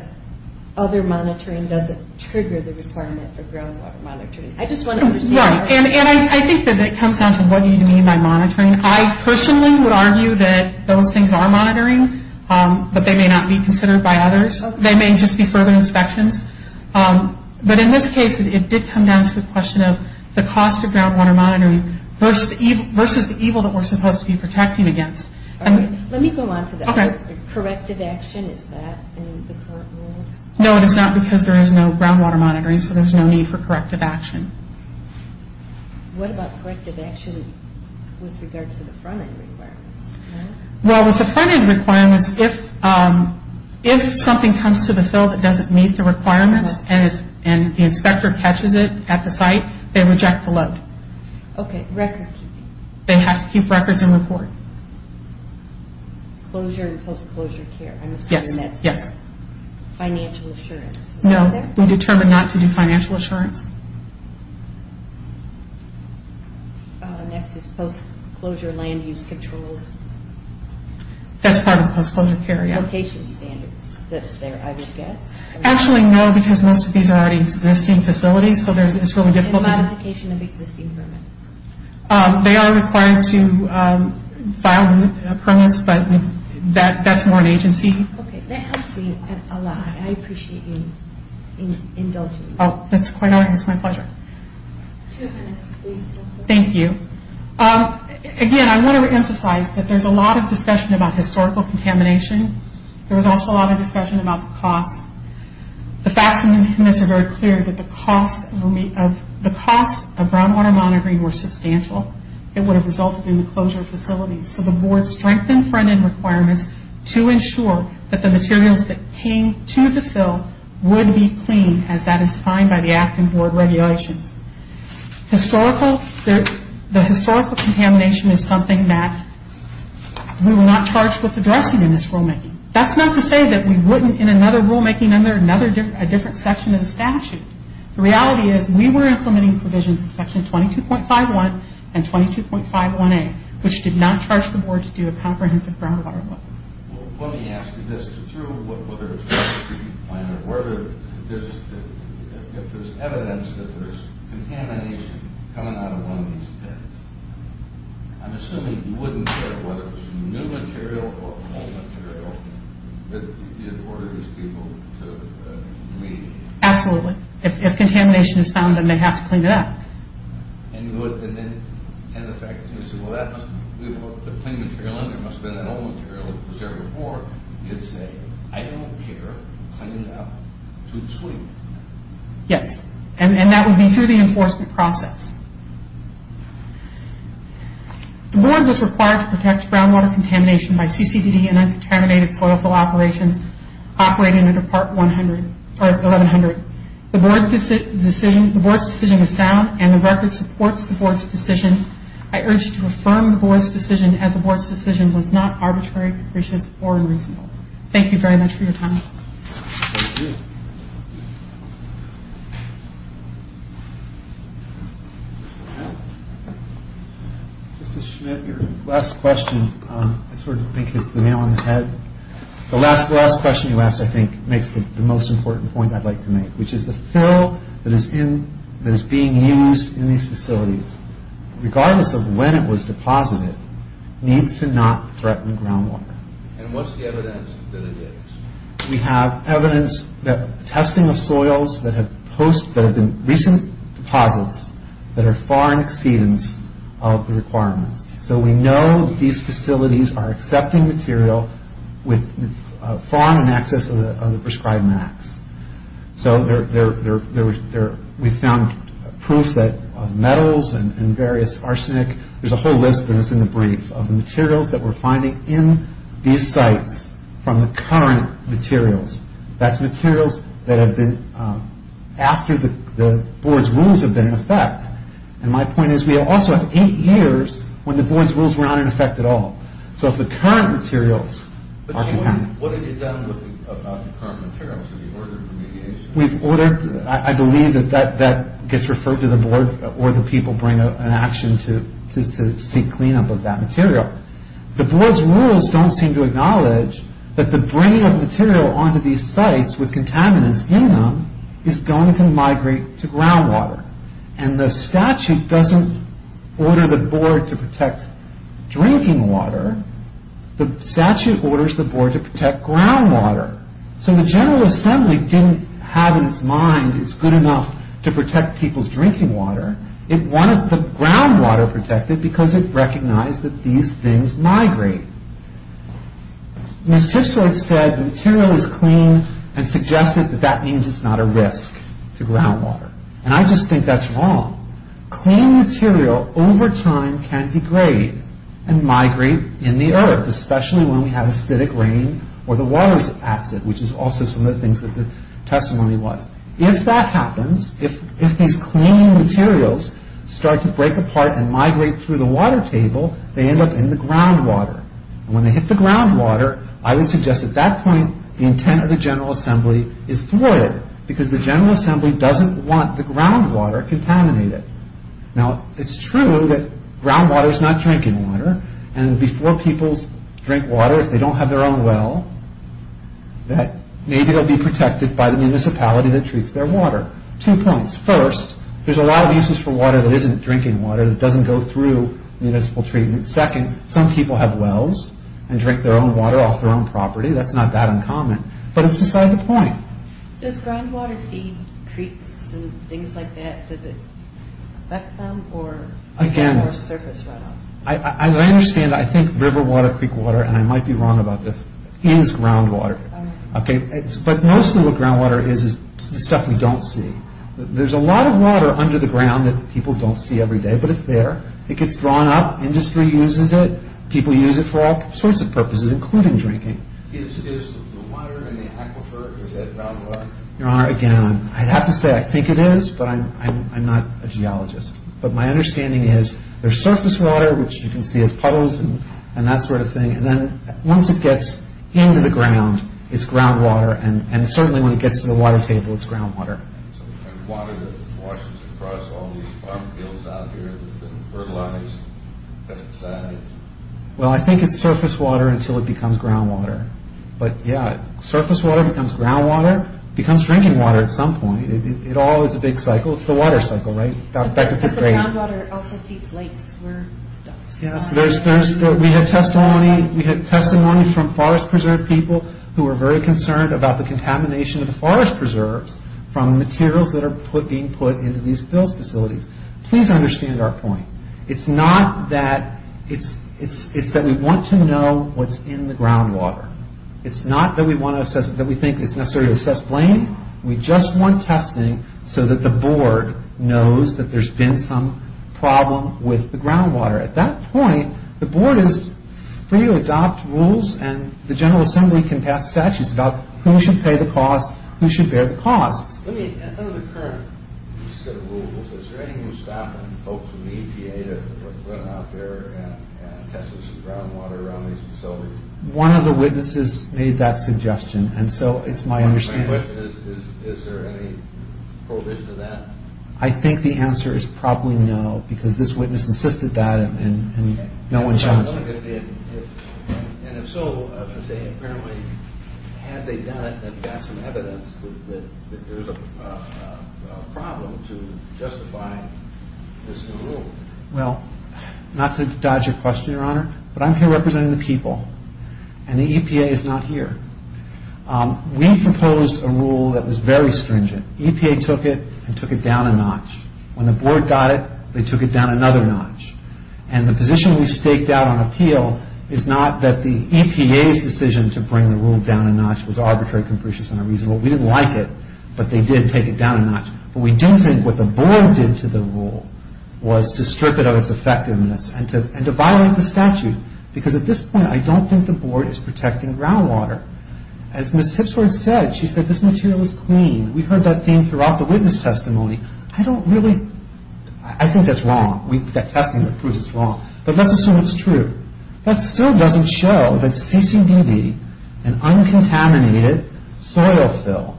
other monitoring doesn't trigger the requirement of groundwater monitoring. I just want to understand. Right, and I think that it comes down to what you mean by monitoring. I personally would argue that those things are monitoring, but they may not be considered by others. They may just be further inspections. But in this case, it did come down to the question of the cost of groundwater monitoring versus the evil that we're supposed to be protecting against. Let me go on to that. Corrective action, is that in the current rules? No, it is not because there is no groundwater monitoring, so there's no need for corrective action. What about corrective action with regard to the front end requirements? Well, with the front end requirements, if something comes to the field that doesn't meet the requirements and the inspector catches it at the site, they reject the load. Okay, record keeping. They have to keep records and report. Closure and post-closure care, I'm assuming that's financial assurance. No, we determine not to do financial assurance. Next is post-closure land use controls. That's part of the post-closure care, yeah. Location standards, that's there, I would guess. Actually, no, because most of these are already existing facilities, so it's really difficult to do. And modification of existing permits. They are required to file permits, but that's more an agency. Okay, that helps me a lot. I appreciate you indulging me. Oh, that's quite all right. It's my pleasure. Two minutes, please. Thank you. Again, I want to emphasize that there's a lot of discussion about historical contamination. There was also a lot of discussion about the cost. The facts in this are very clear that the cost of groundwater monitoring were substantial. It would have resulted in the closure of facilities. So the board strengthened front end requirements to ensure that the materials that came to the fill would be clean, as that is defined by the Act and Board regulations. The historical contamination is something that we were not charged with addressing in this rulemaking. That's not to say that we wouldn't in another rulemaking under a different section of the statute. The reality is we were implementing provisions in section 22.51 and 22.51A, which did not charge the board to do a comprehensive groundwater look. Well, let me ask you this. Through what works, whether there's evidence that there's contamination coming out of one of these pits, I'm assuming you wouldn't care whether it was new material or old material that you'd order these people to clean? Absolutely. If contamination is found, then they have to clean it up. And the fact that you say, well, that must be the clean material in there and it must have been that old material that was there before, you'd say, I don't care. Clean it up to the screen. Yes, and that would be through the enforcement process. The board was required to protect groundwater contamination by CCDD and uncontaminated soil fill operations operating under Part 1100. The board's decision was sound and the record supports the board's decision. I urge you to affirm the board's decision as the board's decision was not arbitrary, capricious, or unreasonable. Thank you very much for your time. Justice Schmidt, your last question, I sort of think it's the nail on the head. The last question you asked, I think, makes the most important point I'd like to make, which is the fill that is being used in these facilities, regardless of when it was deposited, needs to not threaten groundwater. And what's the evidence that it is? We have evidence that testing of soils that have been recent deposits that are far in exceedance of the requirements. So we know that these facilities are accepting material far in excess of the prescribed max. So we found proof that metals and various arsenic, there's a whole list that's in the brief, of the materials that we're finding in these sites from the current materials. That's materials that have been after the board's rules have been in effect. And my point is we also have eight years when the board's rules were not in effect at all. So if the current materials... What have you done about the current materials? Have you ordered remediation? I believe that gets referred to the board or the people bring an action to seek cleanup of that material. The board's rules don't seem to acknowledge that the bringing of material onto these sites with contaminants in them is going to migrate to groundwater. And the statute doesn't order the board to protect drinking water. The statute orders the board to protect groundwater. So the General Assembly didn't have in its mind it's good enough to protect people's drinking water. It wanted the groundwater protected because it recognized that these things migrate. Ms. Tipsworth said the material is clean and suggested that that means it's not a risk to groundwater. And I just think that's wrong. Clean material over time can degrade and migrate in the earth, especially when we have acidic rain or the water's acid, which is also some of the things that the testimony was. If that happens, if these clean materials start to break apart and migrate through the water table, they end up in the groundwater. And when they hit the groundwater, I would suggest at that point the intent of the General Assembly is throw it because the General Assembly doesn't want the groundwater contaminated. Now, it's true that groundwater is not drinking water. And before people drink water, if they don't have their own well, maybe they'll be protected by the municipality that treats their water. Two points. First, there's a lot of uses for water that isn't drinking water that doesn't go through municipal treatment. Second, some people have wells and drink their own water off their own property. That's not that uncommon, but it's beside the point. Does groundwater feed creeks and things like that? Does it affect them? Again, I understand. I think river water, creek water, and I might be wrong about this, is groundwater. But mostly what groundwater is is the stuff we don't see. There's a lot of water under the ground that people don't see every day, but it's there. It gets drawn up. Industry uses it. People use it for all sorts of purposes, including drinking. Is the water in the aquifer, is that groundwater? Your Honor, again, I'd have to say I think it is, but I'm not a geologist. But my understanding is there's surface water, which you can see as puddles and that sort of thing. And then once it gets into the ground, it's groundwater. And certainly when it gets to the water table, it's groundwater. And water that washes across all these farm fields out here with the fertilized pesticides? Well, I think it's surface water until it becomes groundwater. But, yeah, surface water becomes groundwater, becomes drinking water at some point. It all is a big cycle. It's the water cycle, right? But the groundwater also feeds lakes where it does. Yes, we had testimony from forest preserve people who were very concerned about the contamination of the forest preserves from materials that are being put into these built facilities. Please understand our point. It's not that it's that we want to know what's in the groundwater. It's not that we think it's necessary to assess blame. We just want testing so that the Board knows that there's been some problem with the groundwater. At that point, the Board is free to adopt rules, and the General Assembly can pass statutes about who should pay the costs, who should bear the costs. Let me, out of the current set of rules, is there anything we can stop and hope to mediate or put out there and test some groundwater around these facilities? One of the witnesses made that suggestion, and so it's my understanding. My question is, is there any provision to that? I think the answer is probably no, because this witness insisted that, and no one challenged it. And if so, I was going to say, apparently had they done it and got some evidence that there's a problem to justifying this new rule. Well, not to dodge your question, Your Honor, but I'm here representing the people, and the EPA is not here. We proposed a rule that was very stringent. EPA took it and took it down a notch. When the Board got it, they took it down another notch. And the position we staked out on appeal is not that the EPA's decision to bring the rule down a notch was arbitrary, capricious, and unreasonable. We didn't like it, but they did take it down a notch. But we don't think what the Board did to the rule was to strip it of its effectiveness and to violate the statute. Because at this point, I don't think the Board is protecting groundwater. As Ms. Tipsworth said, she said, this material is clean. We heard that theme throughout the witness testimony. I don't really... I think that's wrong. That testing proves it's wrong, but let's assume it's true. That still doesn't show that CCDD, an uncontaminated soil fill,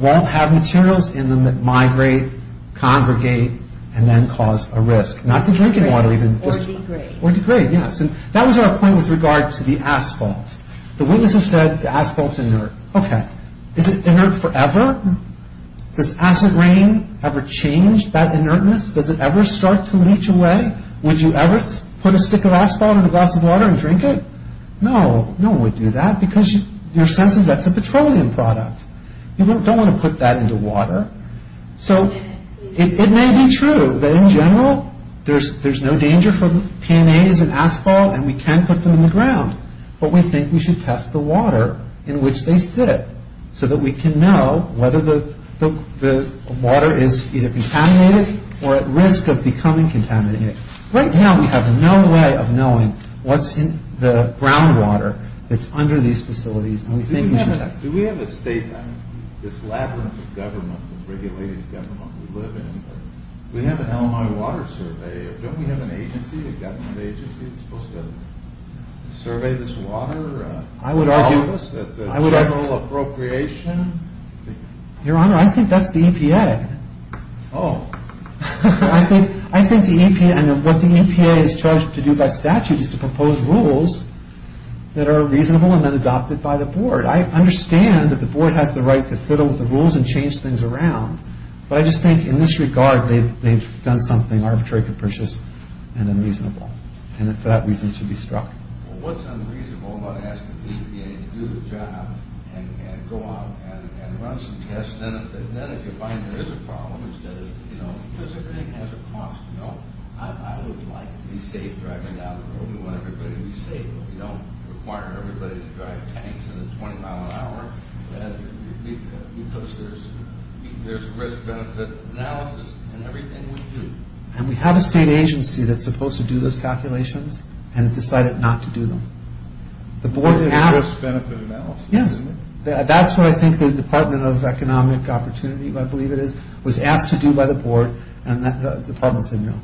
won't have materials in them that migrate, congregate, and then cause a risk. Not to drink any water, even. Or degrade. Or degrade, yes. That was our point with regard to the asphalt. The witness has said the asphalt's inert. Okay. Is it inert forever? Does acid rain ever change that inertness? Does it ever start to leach away? Would you ever put a stick of asphalt in a glass of water and drink it? No. No one would do that because your sense is that's a petroleum product. You don't want to put that into water. So it may be true that in general there's no danger from PNAs and asphalt and we can put them in the ground. But we think we should test the water in which they sit so that we can know whether the water is either contaminated or at risk of becoming contaminated. Right now we have no way of knowing what's in the groundwater that's under these facilities, and we think we should test it. Do we have a state, this labyrinth of government, of regulated government we live in, do we have an Illinois Water Survey? Don't we have an agency, a government agency, that's supposed to survey this water? I would argue... That's a general appropriation. Your Honor, I think that's the EPA. Oh. I think the EPA, and what the EPA is charged to do by statute is to propose rules that are reasonable and then adopted by the board. I understand that the board has the right to fiddle with the rules and change things around, but I just think in this regard they've done something arbitrary, capricious, and unreasonable, and for that reason should be struck. Well, what's unreasonable about asking the EPA to do the job and go out and run some tests, then if you find there is a problem, instead of, you know, because everything has a cost, you know. I would like to be safe driving down the road. We want everybody to be safe. We don't require everybody to drive tanks at a 20 mile an hour because there's risk-benefit analysis in everything we do. And we have a state agency that's supposed to do those calculations, and it decided not to do them. Risk-benefit analysis? Yes. That's what I think the Department of Economic Opportunity, I believe it is, was asked to do by the board, and the department said no.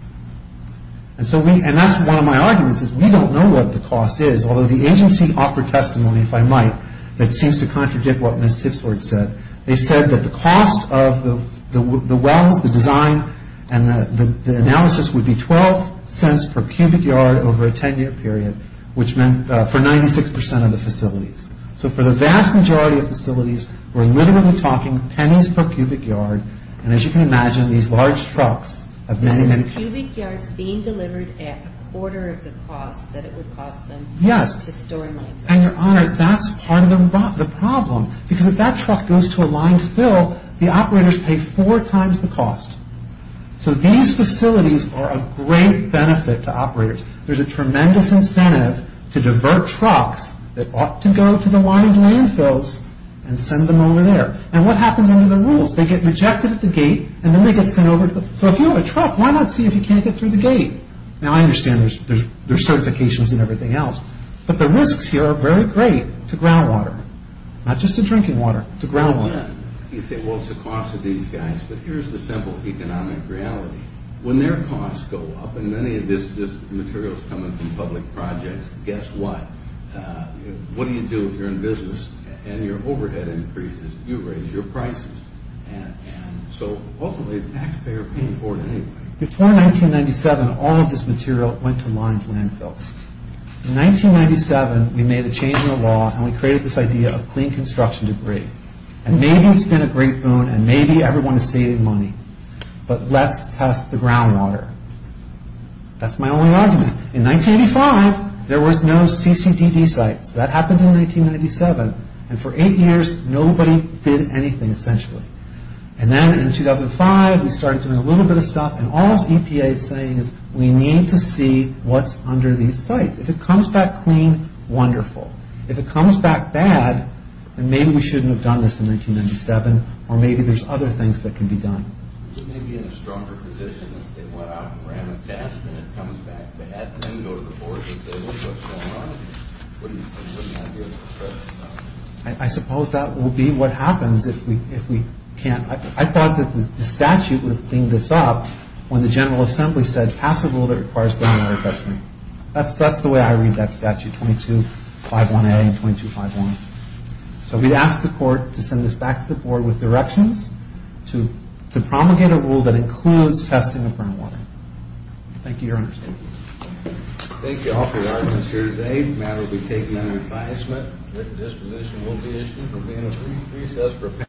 And that's one of my arguments is we don't know what the cost is, although the agency offered testimony, if I might, that seems to contradict what Ms. Tipsworth said. They said that the cost of the wells, the design, and the analysis would be 12 cents per cubic yard over a 10-year period, which meant for 96% of the facilities. So for the vast majority of facilities, we're literally talking pennies per cubic yard, and as you can imagine, these large trucks have many, many cubic yards. This is cubic yards being delivered at a quarter of the cost that it would cost them to store in line. Yes. And, Your Honor, that's part of the problem because if that truck goes to a line fill, the operators pay four times the cost. So these facilities are a great benefit to operators. There's a tremendous incentive to divert trucks that ought to go to the line of landfills and send them over there. And what happens under the rules? They get rejected at the gate, and then they get sent over. So if you have a truck, why not see if you can't get through the gate? Now, I understand there's certifications and everything else, but the risks here are very great to groundwater, not just to drinking water, to groundwater. You say, well, it's the cost of these guys, but here's the simple economic reality. When their costs go up, and many of this material is coming from public projects, guess what? What do you do if you're in business and your overhead increases? You raise your prices. And so, ultimately, the taxpayer pays for it anyway. Before 1997, all of this material went to line landfills. In 1997, we made a change in the law, and we created this idea of clean construction debris. And maybe it's been a great boon, and maybe everyone is saving money, but let's test the groundwater. That's my only argument. In 1985, there was no CCDD sites. That happened in 1997. And for eight years, nobody did anything, essentially. And then in 2005, we started doing a little bit of stuff, and all this EPA is saying is we need to see what's under these sites. If it comes back clean, wonderful. If it comes back bad, then maybe we shouldn't have done this in 1997, or maybe there's other things that can be done. It may be in a stronger position if they went out and ran a test, and it comes back bad, and then you go to the board and say, well, what's going on? What do you have here to express yourself? I suppose that will be what happens if we can't. I thought that the statute would clean this up when the General Assembly said pass a rule that requires groundwater testing. That's the way I read that statute, 2251A and 2251. So we'd ask the court to send this back to the board with directions to promulgate a rule that includes testing of groundwater. Thank you, Your Honor. Thank you all for your arguments here today. The matter will be taken under advisement. Written disposition will be issued for being a brief recess.